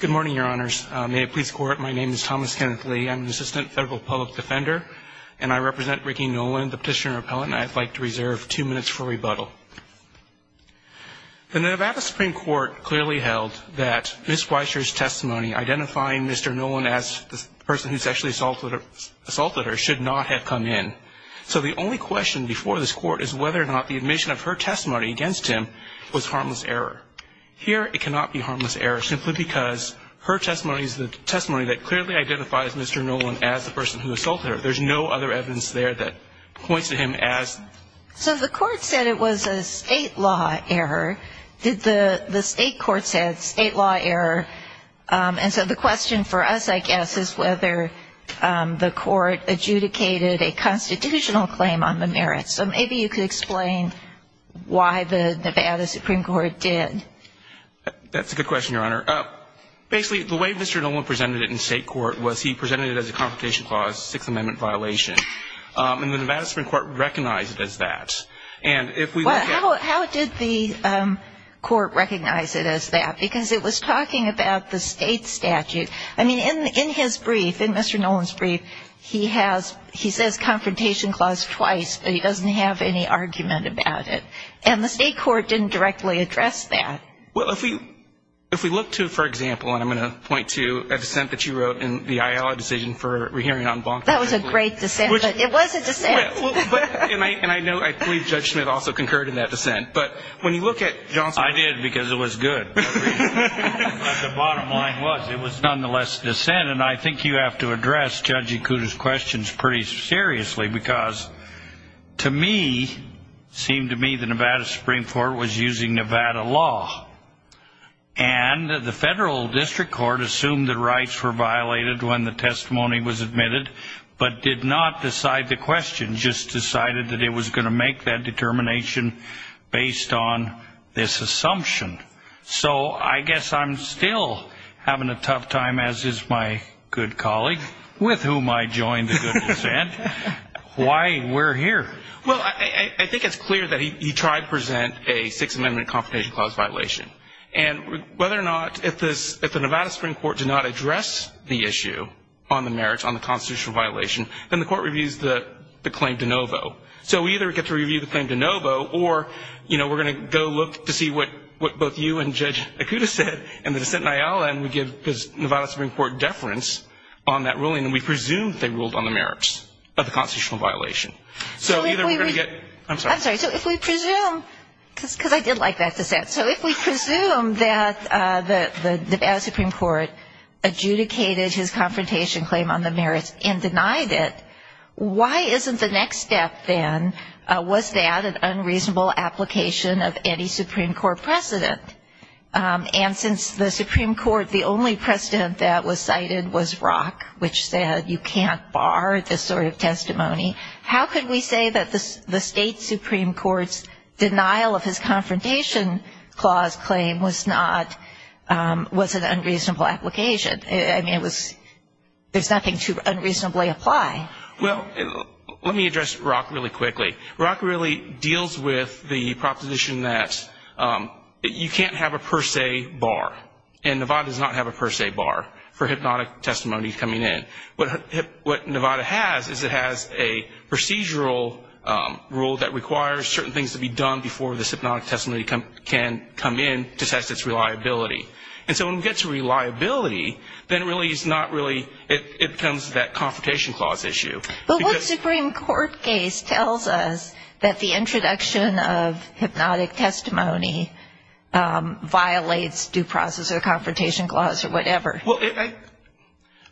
Good morning, your honors. May it please the court, my name is Thomas Kenneth Lee. I'm an assistant federal public defender, and I represent Ricky Nolan, the petitioner-appellant, and I'd like to reserve two minutes for rebuttal. The Nevada Supreme Court clearly held that Ms. Weiser's testimony identifying Mr. Nolan as the person who sexually assaulted her should not have come in. So the only question before this court is whether or not the admission of her testimony against him was harmless error. Here, it cannot be harmless error, simply because her testimony is the testimony that clearly identifies Mr. Nolan as the person who assaulted her. There's no other evidence there that points to him as... So maybe you could explain why the Nevada Supreme Court did. That's a good question, your honor. Basically, the way Mr. Nolan presented it in state court was he presented it as a Confrontation Clause Sixth Amendment violation. And the Nevada Supreme Court recognized it as that. Well, how did the court recognize it as that? Because it was talking about the state statute. I mean, in his brief, in Mr. Nolan's brief, he has, he says Confrontation Clause twice, but he doesn't have any argument about it. And the state court didn't directly address that. Well, if we look to, for example, and I'm going to point to a dissent that you wrote in the Iowa decision for re-hearing on Bonk. That was a great dissent, but it was a dissent. And I know, I believe Judge Schmidt also concurred in that dissent. But when you look at Johnson... I did, because it was good. But the bottom line was it was nonetheless a dissent. And I think you have to address Judge Ikuda's questions pretty seriously, because to me, it seemed to me the Nevada Supreme Court was using Nevada law. And the federal district court assumed the rights were violated when the testimony was admitted, but did not decide the question. Just decided that it was going to make that determination based on this assumption. So I guess I'm still having a tough time, as is my good colleague, with whom I joined the good dissent. Why we're here. Well, I think it's clear that he tried to present a Sixth Amendment Confirmation Clause violation. And whether or not, if the Nevada Supreme Court did not address the issue on the merits on the constitutional violation, then the court reviews the claim de novo. So we either get to review the claim de novo, or we're going to go look to see what both you and Judge Ikuda said, and the dissent in Iowa, and we give the Nevada Supreme Court deference on that ruling. And we presume they ruled on the merits of the constitutional violation. I'm sorry. So if we presume, because I did like that dissent, so if we presume that the Nevada Supreme Court adjudicated his confrontation claim on the merits and denied it, why isn't the next step then, was that an unreasonable application of any Supreme Court precedent? And since the Supreme Court, the only precedent that was cited was Rock, which said you can't bar this sort of testimony, how could we say that the state Supreme Court's denial of his confrontation clause claim was not, was an unreasonable application? I mean, it was, there's nothing to unreasonably apply. Well, let me address Rock really quickly. Rock really deals with the proposition that you can't have a per se bar. And Nevada does not have a per se bar for hypnotic testimony coming in. What Nevada has is it has a procedural rule that requires certain things to be done before this hypnotic testimony can come in to test its reliability. And so when we get to reliability, then it really is not really, it becomes that confrontation clause issue. But what Supreme Court case tells us that the introduction of hypnotic testimony violates due process or confrontation clause or whatever? Well,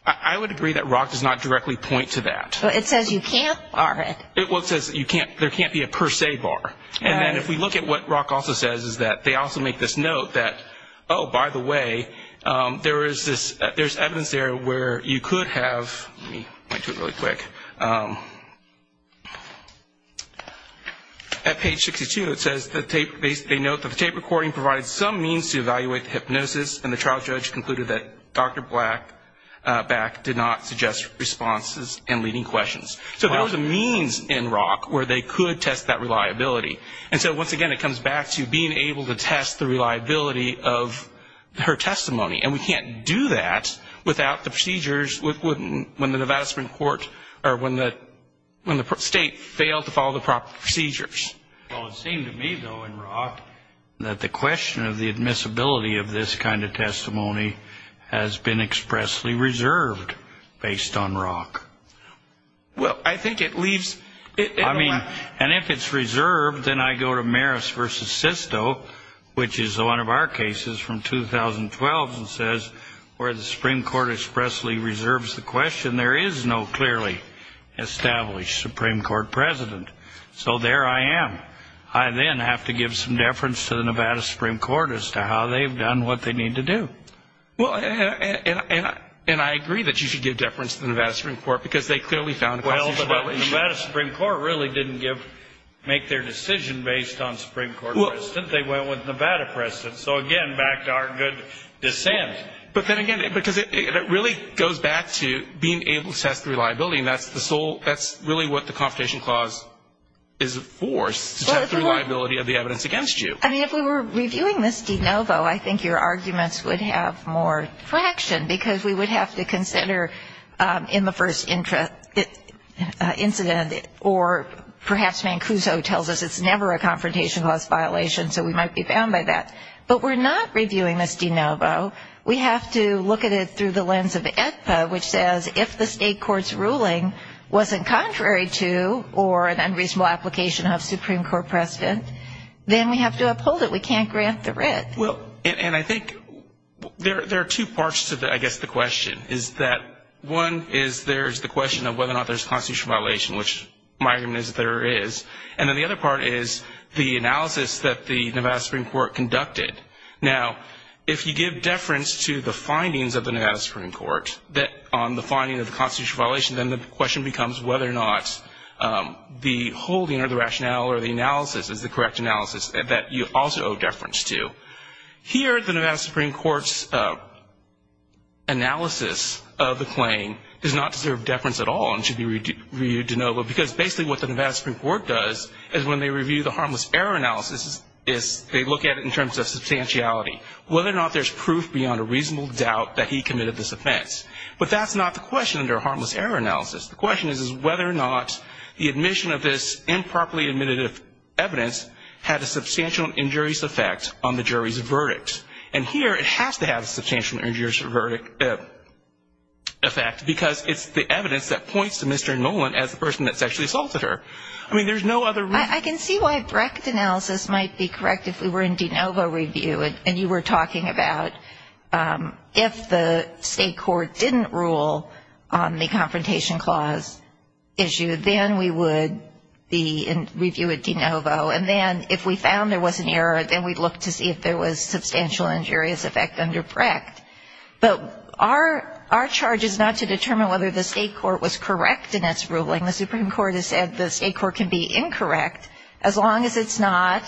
I would agree that Rock does not directly point to that. But it says you can't bar it. Well, it says you can't, there can't be a per se bar. And then if we look at what Rock also says is that they also make this note that, oh, by the way, there is this, there's evidence there where you could have, let me point to it really quick. At page 62 it says the tape, they note that the tape recording provides some means to evaluate the hypnosis and the trial judge concluded that Dr. Blackback did not suggest responses and leading questions. So there was a means in Rock where they could test that reliability. And so once again, it comes back to being able to test the reliability of her testimony. And we can't do that without the procedures when the Nevada Supreme Court, or when the state failed to follow the proper procedures. Well, it seemed to me, though, in Rock that the question of the admissibility of this kind of testimony has been expressly reserved based on Rock. Well, I think it leaves it. I mean, and if it's reserved, then I go to Maris v. Sisto, which is one of our cases from 2012, and says where the Supreme Court expressly reserves the question, there is no clearly established Supreme Court president. So there I am. I then have to give some deference to the Nevada Supreme Court as to how they've done what they need to do. Well, and I agree that you should give deference to the Nevada Supreme Court because they clearly found causes for violation. Well, the Nevada Supreme Court really didn't make their decision based on Supreme Court president. They went with Nevada president. So, again, back to our good dissent. But then again, because it really goes back to being able to test the reliability, and that's the sole, that's really what the Confrontation Clause is for, to test the reliability of the evidence against you. I mean, if we were reviewing this de novo, I think your arguments would have more traction because we would have to consider in the first incident, or perhaps Mancuso tells us it's never a Confrontation Clause violation, so we might be bound by that. But we're not reviewing this de novo. We have to look at it through the lens of AEDPA, which says if the state court's ruling wasn't contrary to or an unreasonable application of Supreme Court president, then we have to uphold it. We can't grant the writ. Well, and I think there are two parts to, I guess, the question. One is there's the question of whether or not there's a constitutional violation, which my argument is there is. And then the other part is the analysis that the Nevada Supreme Court conducted. Now, if you give deference to the findings of the Nevada Supreme Court on the finding of the constitutional violation, then the question becomes whether or not the holding or the rationale or the analysis is the correct analysis that you also owe deference to. Here, the Nevada Supreme Court's analysis of the claim does not deserve deference at all and should be reviewed de novo, because basically what the Nevada Supreme Court does is when they review the harmless error analysis, they look at it in terms of substantiality, whether or not there's proof beyond a reasonable doubt that he committed this offense. But that's not the question under a harmless error analysis. The question is whether or not the admission of this improperly admitted evidence had a substantial injurious effect on the jury's verdict. And here it has to have a substantial injurious effect, because it's the evidence that points to Mr. Nolan as the person that sexually assaulted her. I mean, there's no other reason. I can see why direct analysis might be correct if we were in de novo review and you were talking about if the state court didn't rule on the confrontation clause issue, then we would be in review at de novo. And then if we found there was an error, then we'd look to see if there was substantial injurious effect under Brecht. But our charge is not to determine whether the state court was correct in its ruling. The Supreme Court has said the state court can be incorrect as long as it's not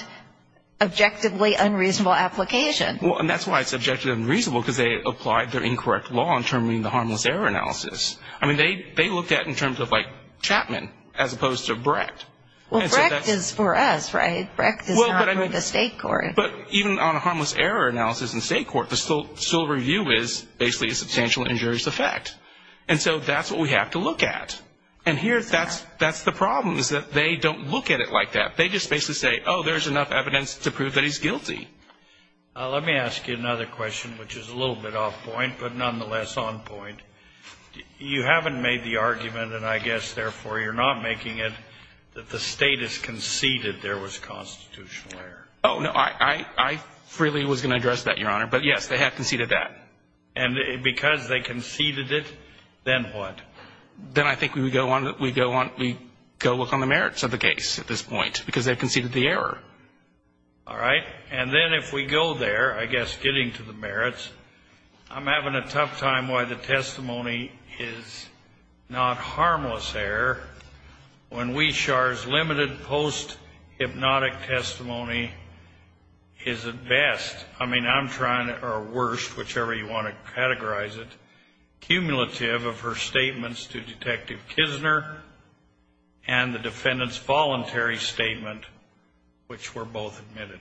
objectively unreasonable application. Well, and that's why it's objectively unreasonable, because they applied their incorrect law in terminating the harmless error analysis. I mean, they looked at it in terms of like Chapman as opposed to Brecht. Well, Brecht is for us, right? Brecht is not for the state court. But even on a harmless error analysis in state court, the sole review is basically a substantial injurious effect. And so that's what we have to look at. And here that's the problem is that they don't look at it like that. They just basically say, oh, there's enough evidence to prove that he's guilty. Let me ask you another question, which is a little bit off point, but nonetheless on point. You haven't made the argument, and I guess, therefore, you're not making it that the State has conceded there was constitutional error. Oh, no. I freely was going to address that, Your Honor. But, yes, they have conceded that. And because they conceded it, then what? Then I think we would go on to look on the merits of the case at this point, because they conceded the error. All right. And then if we go there, I guess getting to the merits, I'm having a tough time why the testimony is not harmless error when Weishar's limited post-hypnotic testimony is at best, I mean, I'm trying, or worst, whichever you want to categorize it, cumulative of her statements to Detective Kisner and the defendant's voluntary statement, which were both admitted.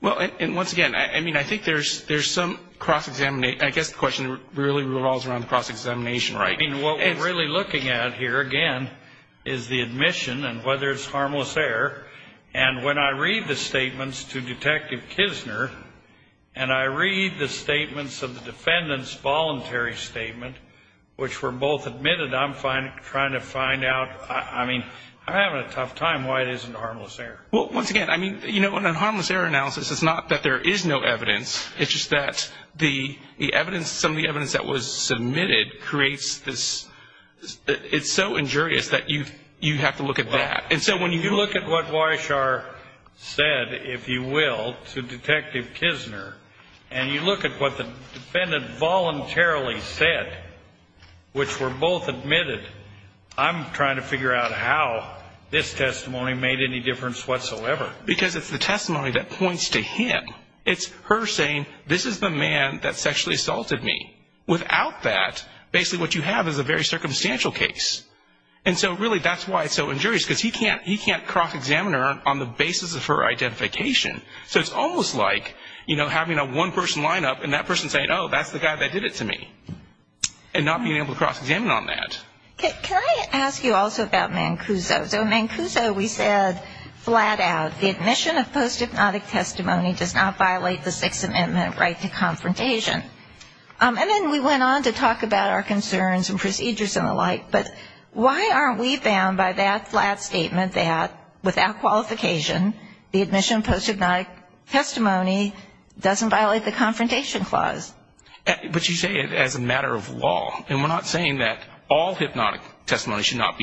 Well, and once again, I mean, I think there's some cross-examination. I guess the question really revolves around cross-examination, right? I mean, what we're really looking at here, again, is the admission and whether it's harmless error. And when I read the statements to Detective Kisner, and I read the statements of the defendant's voluntary statement, which were both admitted, I'm trying to find out, I mean, I'm having a tough time why it isn't harmless error. Well, once again, I mean, you know, in a harmless error analysis, it's not that there is no evidence. It's just that the evidence, some of the evidence that was submitted creates this, it's so injurious that you have to look at that. And so when you look at what Weishar said, if you will, to Detective Kisner, and you look at what the defendant voluntarily said, which were both admitted, I'm trying to figure out how this testimony made any difference whatsoever. Because it's the testimony that points to him. It's her saying, this is the man that sexually assaulted me. Without that, basically what you have is a very circumstantial case. And so really, that's why it's so injurious, because he can't cross-examine her on the basis of her identification. So it's almost like, you know, having a one-person lineup and that person saying, oh, that's the guy that did it to me. And not being able to cross-examine on that. Can I ask you also about Mancuso? So in Mancuso, we said flat out, the admission of post-hypnotic testimony does not violate the Sixth Amendment right to confrontation. And then we went on to talk about our concerns and procedures and the like. But why aren't we bound by that flat statement that without qualification, the admission of post-hypnotic testimony doesn't violate the Confrontation Clause? But you say it as a matter of law. And we're not saying that all hypnotic testimony should not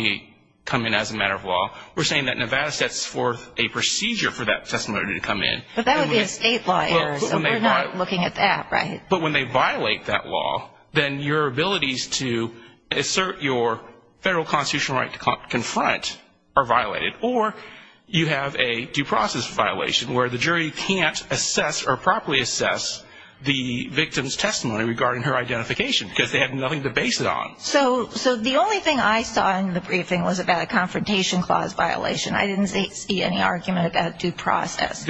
come in as a matter of law. We're saying that Nevada sets forth a procedure for that testimony to come in. But that would be a state law error, so we're not looking at that, right? But when they violate that law, then your abilities to assert your federal constitutional right to confront are violated. Or you have a due process violation where the jury can't assess or properly assess the victim's testimony regarding her identification because they have nothing to base it on. So the only thing I saw in the briefing was about a Confrontation Clause violation. I didn't see any argument about due process.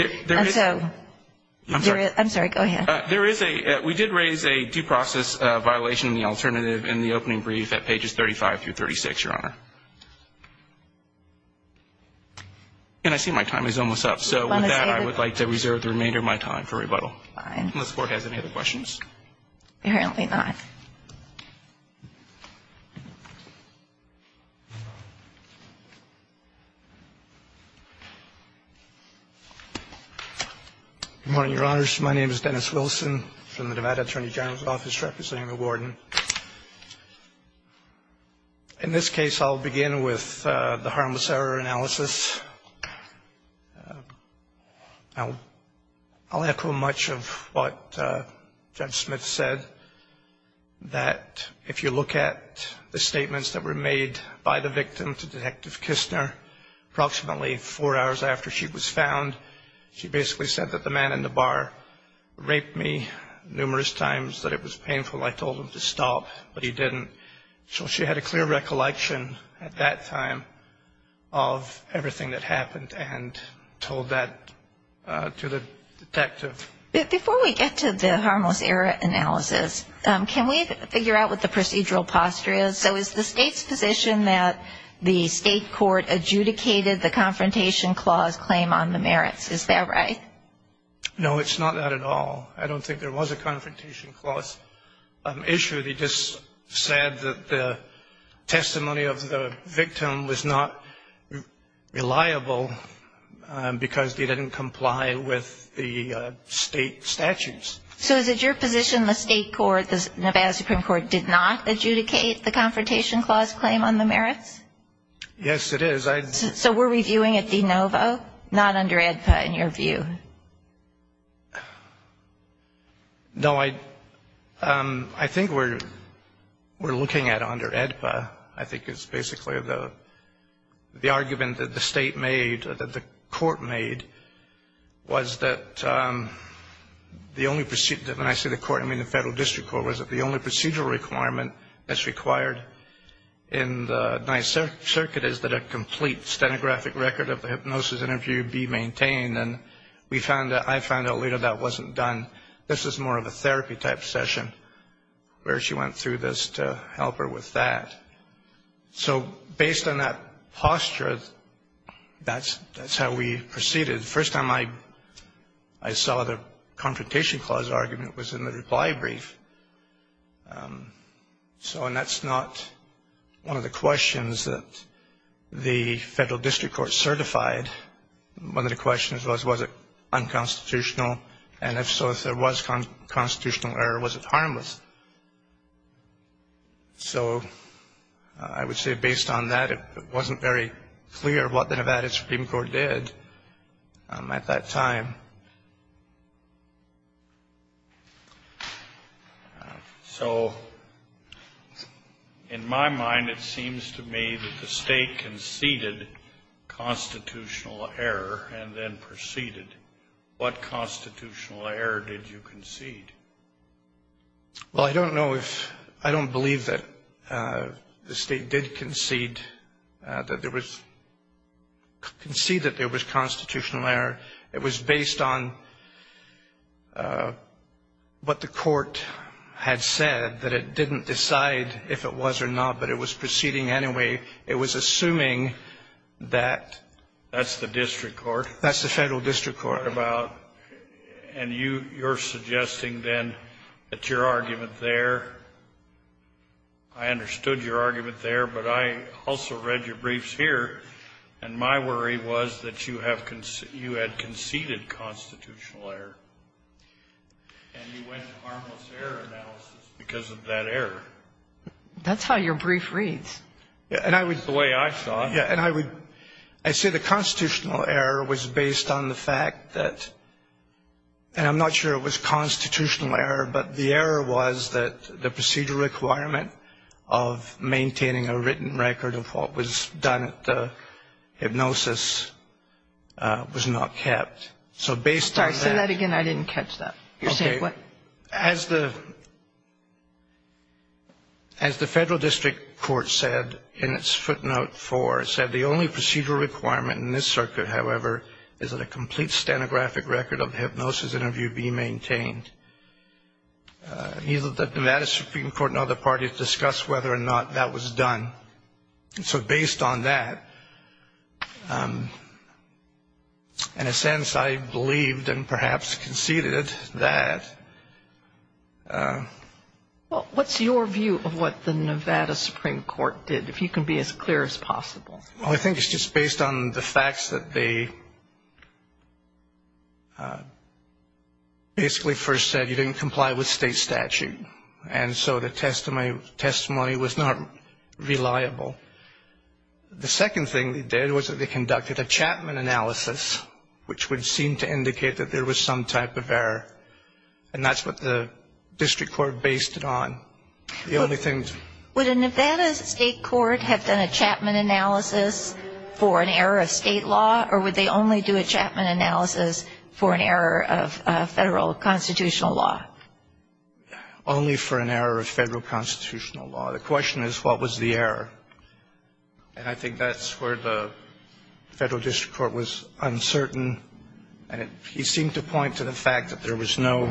I'm sorry, go ahead. We did raise a due process violation in the alternative in the opening brief at pages 35 through 36, Your Honor. And I see my time is almost up. So with that, I would like to reserve the remainder of my time for rebuttal. Fine. Unless the Court has any other questions. Apparently not. Good morning, Your Honors. My name is Dennis Wilson from the Nevada Attorney General's Office representing the Warden. In this case, I'll begin with the harmless error analysis. Now, I'll echo much of what Judge Smith said, that if you look at the statements that were made by the victim to Detective Kistner, approximately four hours after she was found, she basically said that the man in the bar raped me numerous times, that it was painful. I told him to stop, but he didn't. So she had a clear recollection at that time of everything that happened and told that to the detective. Before we get to the harmless error analysis, can we figure out what the procedural posture is? So is the State's position that the State court adjudicated the Confrontation Clause claim on the merits? Is that right? No, it's not that at all. I don't think there was a Confrontation Clause issue. They just said that the testimony of the victim was not reliable because they didn't comply with the State statutes. So is it your position the State court, the Nevada Supreme Court, did not adjudicate the Confrontation Clause claim on the merits? Yes, it is. So were we viewing it de novo, not under AEDPA in your view? No, I think we're looking at it under AEDPA. I think it's basically the argument that the State made, that the court made, was that the only procedure, when I say the court, I mean the Federal District Court, was that the only procedural requirement that's required in the Ninth Circuit is that a complete stenographic record of the hypnosis interview be maintained. And I found out later that wasn't done. This is more of a therapy type session where she went through this to help her with that. So based on that posture, that's how we proceeded. The first time I saw the Confrontation Clause argument was in the reply brief. And that's not one of the questions that the Federal District Court certified. One of the questions was, was it unconstitutional? And if so, if there was constitutional error, was it harmless? So I would say based on that, it wasn't very clear what the Nevada Supreme Court did at that time. So in my mind, it seems to me that the State conceded constitutional error and then proceeded. What constitutional error did you concede? Well, I don't know if — I don't believe that the State did concede that there was constitutional error. It was based on what the court had said, that it didn't decide if it was or not, but it was proceeding anyway. It was assuming that — That's the District Court. That's the Federal District Court. And you're suggesting then that your argument there — I understood your argument there, but I also read your briefs here, and my worry was that you have — you had conceded constitutional error. And you went to harmless error analysis because of that error. That's how your brief reads. And I would — It's the way I saw it. Yeah. And I would — I'd say the constitutional error was based on the fact that — and I'm not sure it was constitutional error, but the error was that the procedural requirement of maintaining a written record of what was done at the hypnosis was not kept. So based on that — Sorry. Say that again. I didn't catch that. You're saying what? Okay. As the Federal District Court said in its footnote 4, it said, The only procedural requirement in this circuit, however, is that a complete stenographic record of hypnosis interview be maintained. Neither the Nevada Supreme Court nor the parties discussed whether or not that was done. And so based on that, in a sense, I believed and perhaps conceded that — Well, what's your view of what the Nevada Supreme Court did? If you can be as clear as possible. Well, I think it's just based on the facts that they basically first said you didn't comply with state statute. And so the testimony was not reliable. The second thing they did was that they conducted a Chapman analysis, which would seem to indicate that there was some type of error. And that's what the district court based it on. The only thing — Would a Nevada state court have done a Chapman analysis for an error of state law, or would they only do a Chapman analysis for an error of federal constitutional law? Only for an error of federal constitutional law. The question is, what was the error? And I think that's where the Federal District Court was uncertain. And he seemed to point to the fact that there was no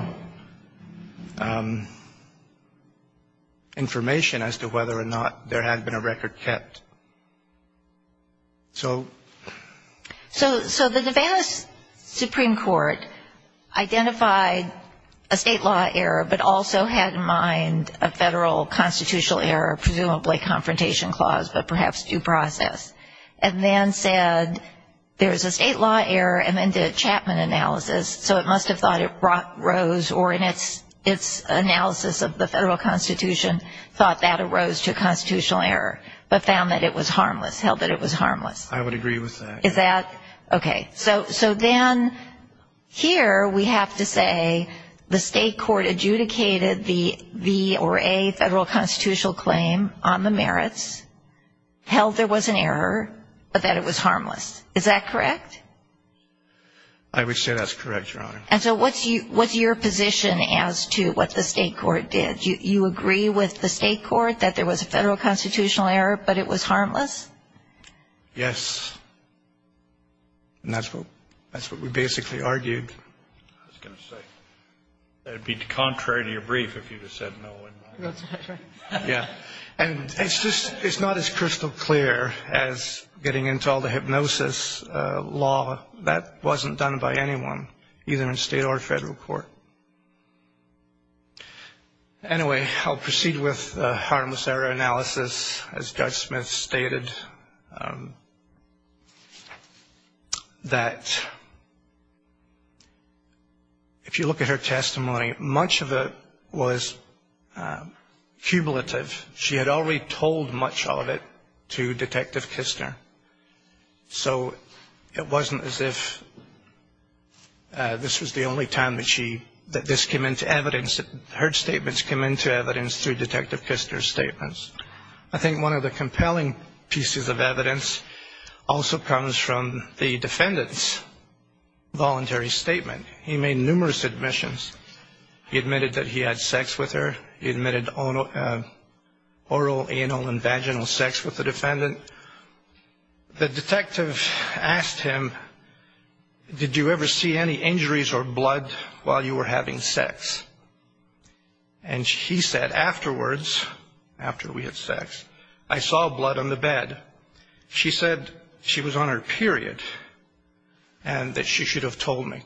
information as to whether or not there had been a record kept. So — So the Nevada Supreme Court identified a state law error, but also had in mind a federal constitutional error, presumably a confrontation clause, but perhaps due process, and then said there's a state law error, and then did a Chapman analysis. So it must have thought it rose, or in its analysis of the federal constitution, thought that arose to a constitutional error, but found that it was harmless, held that it was harmless. I would agree with that. Is that — okay. So then here we have to say the state court adjudicated the V or A federal constitutional claim on the merits, held there was an error, but that it was harmless. Is that correct? I would say that's correct, Your Honor. And so what's your position as to what the state court did? Do you agree with the state court that there was a federal constitutional error, but it was harmless? Yes. And that's what we basically argued. I was going to say that it would be contrary to your brief if you had said no. That's right. Yeah. And it's not as crystal clear as getting into all the hypnosis law. That wasn't done by anyone, either in state or federal court. Anyway, I'll proceed with the harmless error analysis, as Judge Smith stated, that if you look at her testimony, much of it was cumulative. She had already told much of it to Detective Kistner. So it wasn't as if this was the only time that this came into evidence, that her statements came into evidence through Detective Kistner's statements. I think one of the compelling pieces of evidence also comes from the defendant's voluntary statement. He made numerous admissions. He admitted that he had sex with her. He admitted oral, anal, and vaginal sex with the defendant. The detective asked him, did you ever see any injuries or blood while you were having sex? And he said, afterwards, after we had sex, I saw blood on the bed. She said she was on her period and that she should have told me.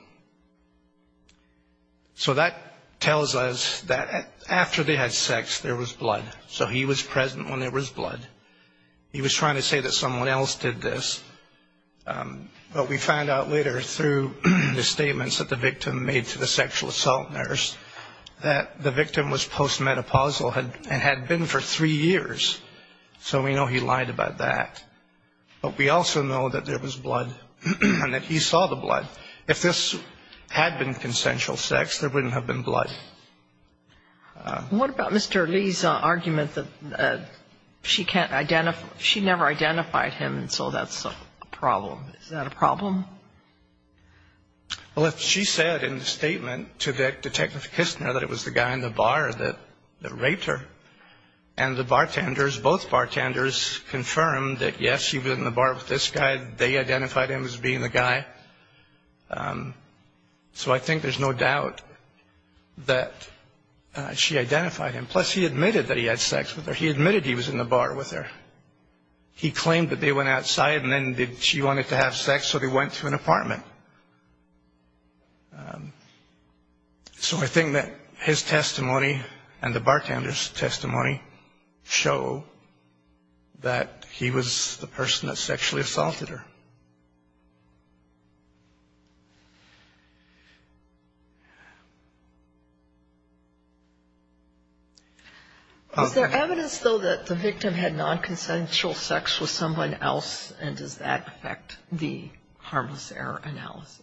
So that tells us that after they had sex, there was blood. So he was present when there was blood. He was trying to say that someone else did this. But we found out later, through the statements that the victim made to the sexual assault nurse, that the victim was post-menopausal and had been for three years. So we know he lied about that. But we also know that there was blood and that he saw the blood. If this had been consensual sex, there wouldn't have been blood. What about Mr. Lee's argument that she can't identify, she never identified him and so that's a problem? Is that a problem? Well, if she said in the statement to Detective Kistner that it was the guy in the bar that raped her and the bartenders, both bartenders, confirmed that, yes, she was in the bar with this guy. They identified him as being the guy. So I think there's no doubt that she identified him. Plus, he admitted that he had sex with her. He admitted he was in the bar with her. He claimed that they went outside and then she wanted to have sex, so they went to an apartment. So I think that his testimony and the bartender's testimony show that he was the person that sexually assaulted her. Is there evidence, though, that the victim had nonconsensual sex with someone else and does that affect the harmless error analysis?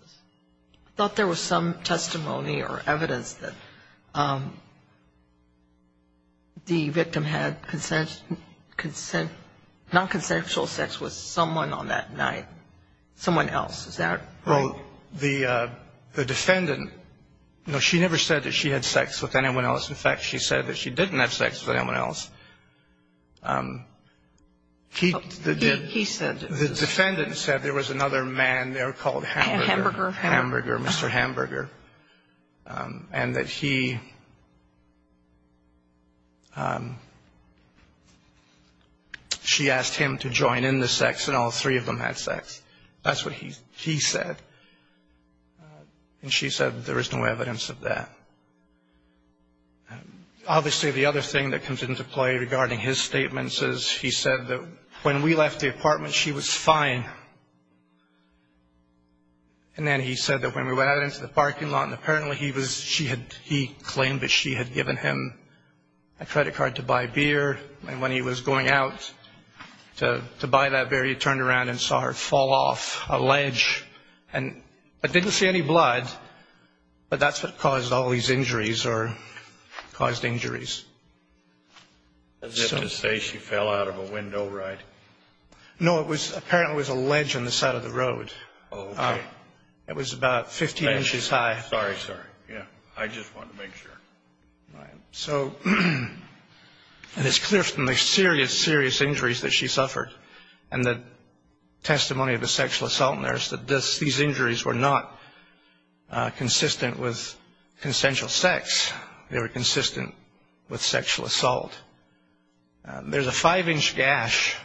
I thought there was some testimony or evidence that the victim had nonconsensual sex with someone on that night, someone else. Is that right? Well, the defendant, no, she never said that she had sex with anyone else. In fact, she said that she didn't have sex with anyone else. He said. The defendant said there was another man there called Hamburger. Hamburger. Hamburger, Mr. Hamburger, and that he, she asked him to join in the sex and all three of them had sex. That's what he said. And she said there is no evidence of that. Obviously, the other thing that comes into play regarding his statements is he said that when we left the apartment, she was fine. And then he said that when we went out into the parking lot and apparently he was, she had, he claimed that she had given him a credit card to buy beer. And when he was going out to buy that beer, he turned around and saw her fall off a ledge and didn't see any blood. But that's what caused all these injuries or caused injuries. As if to say she fell out of a window, right? No, it was apparently was a ledge on the side of the road. Oh, it was about 15 inches high. Sorry, sorry. Yeah, I just wanted to make sure. So it is clear from the serious, serious injuries that she suffered and the testimony of a sexual assault nurse that these injuries were not consistent with consensual sex. They were consistent with sexual assault. There's a five-inch gash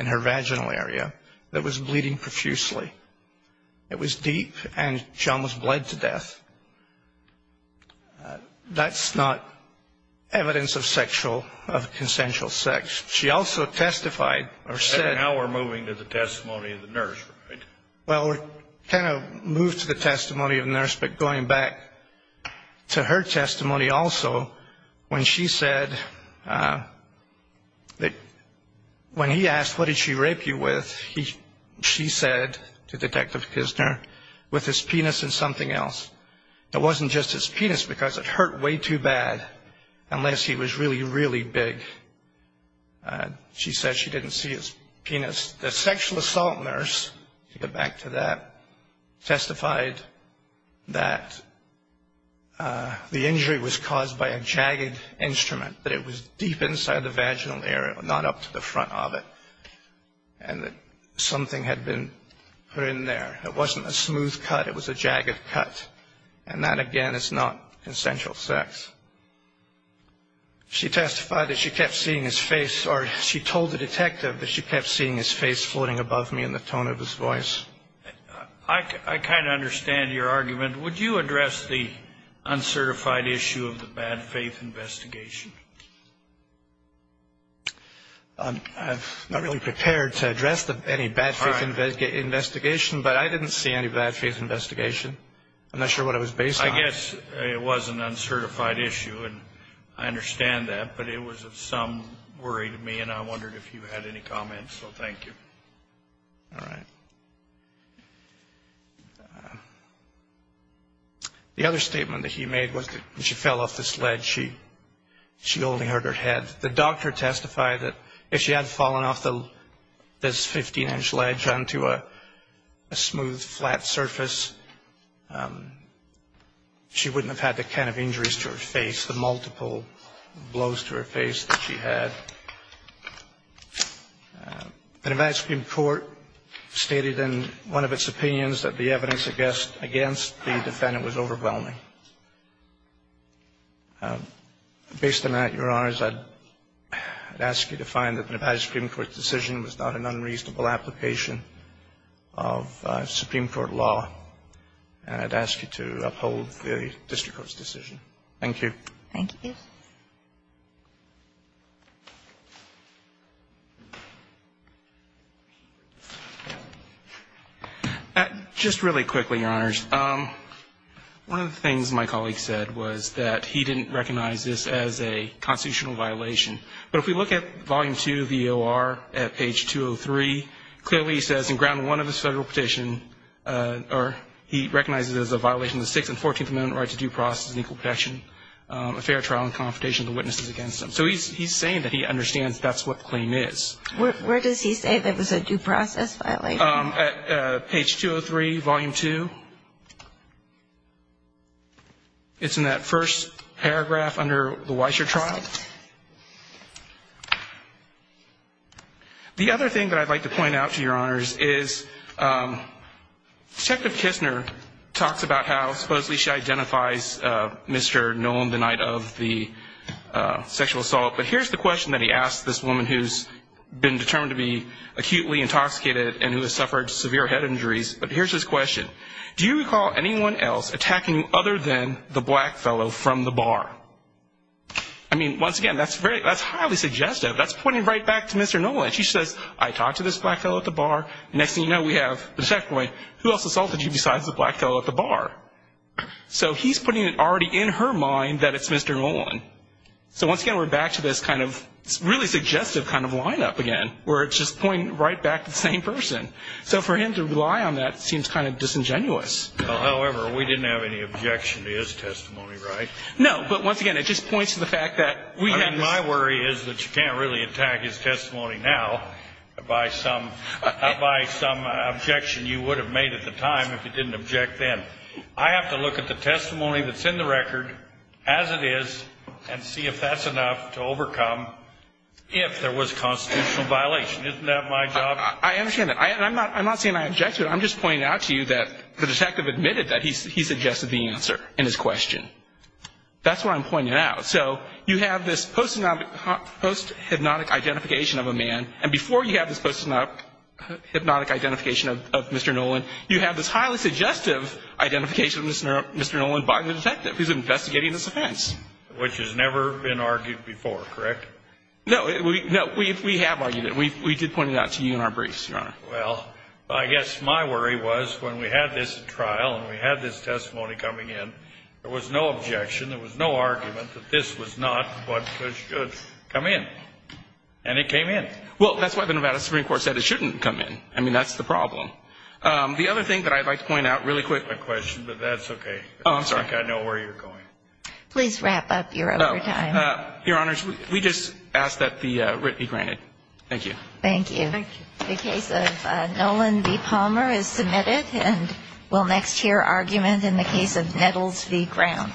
in her vaginal area that was bleeding profusely. It was deep and she almost bled to death. That's not evidence of sexual, of consensual sex. She also testified or said. And now we're moving to the testimony of the nurse, right? Well, we're kind of moved to the testimony of the nurse. But going back to her testimony also, when she said that when he asked, what did she rape you with? She said to Detective Kisner with his penis and something else. It wasn't just his penis because it hurt way too bad unless he was really, really big. She said she didn't see his penis. The sexual assault nurse, to get back to that, testified that the injury was caused by a jagged instrument, that it was deep inside the vaginal area, not up to the front of it, and that something had been put in there. It wasn't a smooth cut. It was a jagged cut. And that, again, is not consensual sex. She testified that she kept seeing his face, or she told the detective that she kept seeing his face floating above me in the tone of his voice. I kind of understand your argument. Would you address the uncertified issue of the bad faith investigation? I'm not really prepared to address any bad faith investigation, but I didn't see any bad faith investigation. I'm not sure what it was based on. I guess it was an uncertified issue, and I understand that, but it was of some worry to me, and I wondered if you had any comments, so thank you. All right. The other statement that he made was that when she fell off this ledge, she only hurt her head. The doctor testified that if she had fallen off this 15-inch ledge onto a smooth, flat surface, she wouldn't have had the kind of injuries to her face, the multiple blows to her face that she had. The Nevada Supreme Court stated in one of its opinions that the evidence against the defendant was overwhelming. Based on that, Your Honors, I'd ask you to find that the Nevada Supreme Court's decision was not an unreasonable application of Supreme Court law, and I'd ask you to uphold the district court's decision. Thank you. Thank you. Just really quickly, Your Honors. One of the things my colleague said was that he didn't recognize this as a constitutional violation. But if we look at Volume 2 of the O.R. at page 203, clearly he says in Ground 1 of the Federal Petition, or he recognizes it as a violation of the Sixth and Fourteenth Amendment right to due process and equal protection, a fair trial and confrontation of the witnesses against them. So he's saying that he understands that's what the claim is. Where does he say that it was a due process violation? Page 203, Volume 2. It's in that first paragraph under the Weisher trial. The other thing that I'd like to point out to Your Honors is, Detective Kistner talks about how supposedly she identifies Mr. Nolan the night of the sexual assault. But here's the question that he asks this woman who's been determined to be acutely intoxicated and who has suffered severe head injuries. But here's his question. Do you recall anyone else attacking you other than the black fellow from the bar? I mean, once again, that's highly suggestive. That's pointing right back to Mr. Nolan. She says, I talked to this black fellow at the bar. Next thing you know, we have the checkpoint. Who else assaulted you besides the black fellow at the bar? So he's putting it already in her mind that it's Mr. Nolan. So once again, we're back to this kind of really suggestive kind of lineup again, where it's just pointing right back to the same person. So for him to rely on that seems kind of disingenuous. However, we didn't have any objection to his testimony, right? No, but once again, it just points to the fact that we have this. My worry is that you can't really attack his testimony now by some objection you would have made at the time if you didn't object then. I have to look at the testimony that's in the record as it is and see if that's enough to overcome if there was constitutional violation. Isn't that my job? I understand that. I'm not saying I object to it. I'm just pointing out to you that the detective admitted that he suggested the answer in his question. That's what I'm pointing out. So you have this post-hypnotic identification of a man, and before you have this post-hypnotic identification of Mr. Nolan, you have this highly suggestive identification of Mr. Nolan by the detective who's investigating this offense. Which has never been argued before, correct? No, we have argued it. We did point it out to you in our briefs, Your Honor. Well, I guess my worry was when we had this trial and we had this testimony coming in, there was no objection, there was no argument that this was not what should come in. And it came in. Well, that's why the Nevada Supreme Court said it shouldn't come in. I mean, that's the problem. The other thing that I'd like to point out really quick. That's my question, but that's okay. Oh, I'm sorry. I think I know where you're going. Please wrap up. You're over time. Your Honors, we just ask that the writ be granted. Thank you. Thank you. Thank you. The case of Nolan v. Palmer is submitted. We'll next hear argument in the case of Nettles v. Brown.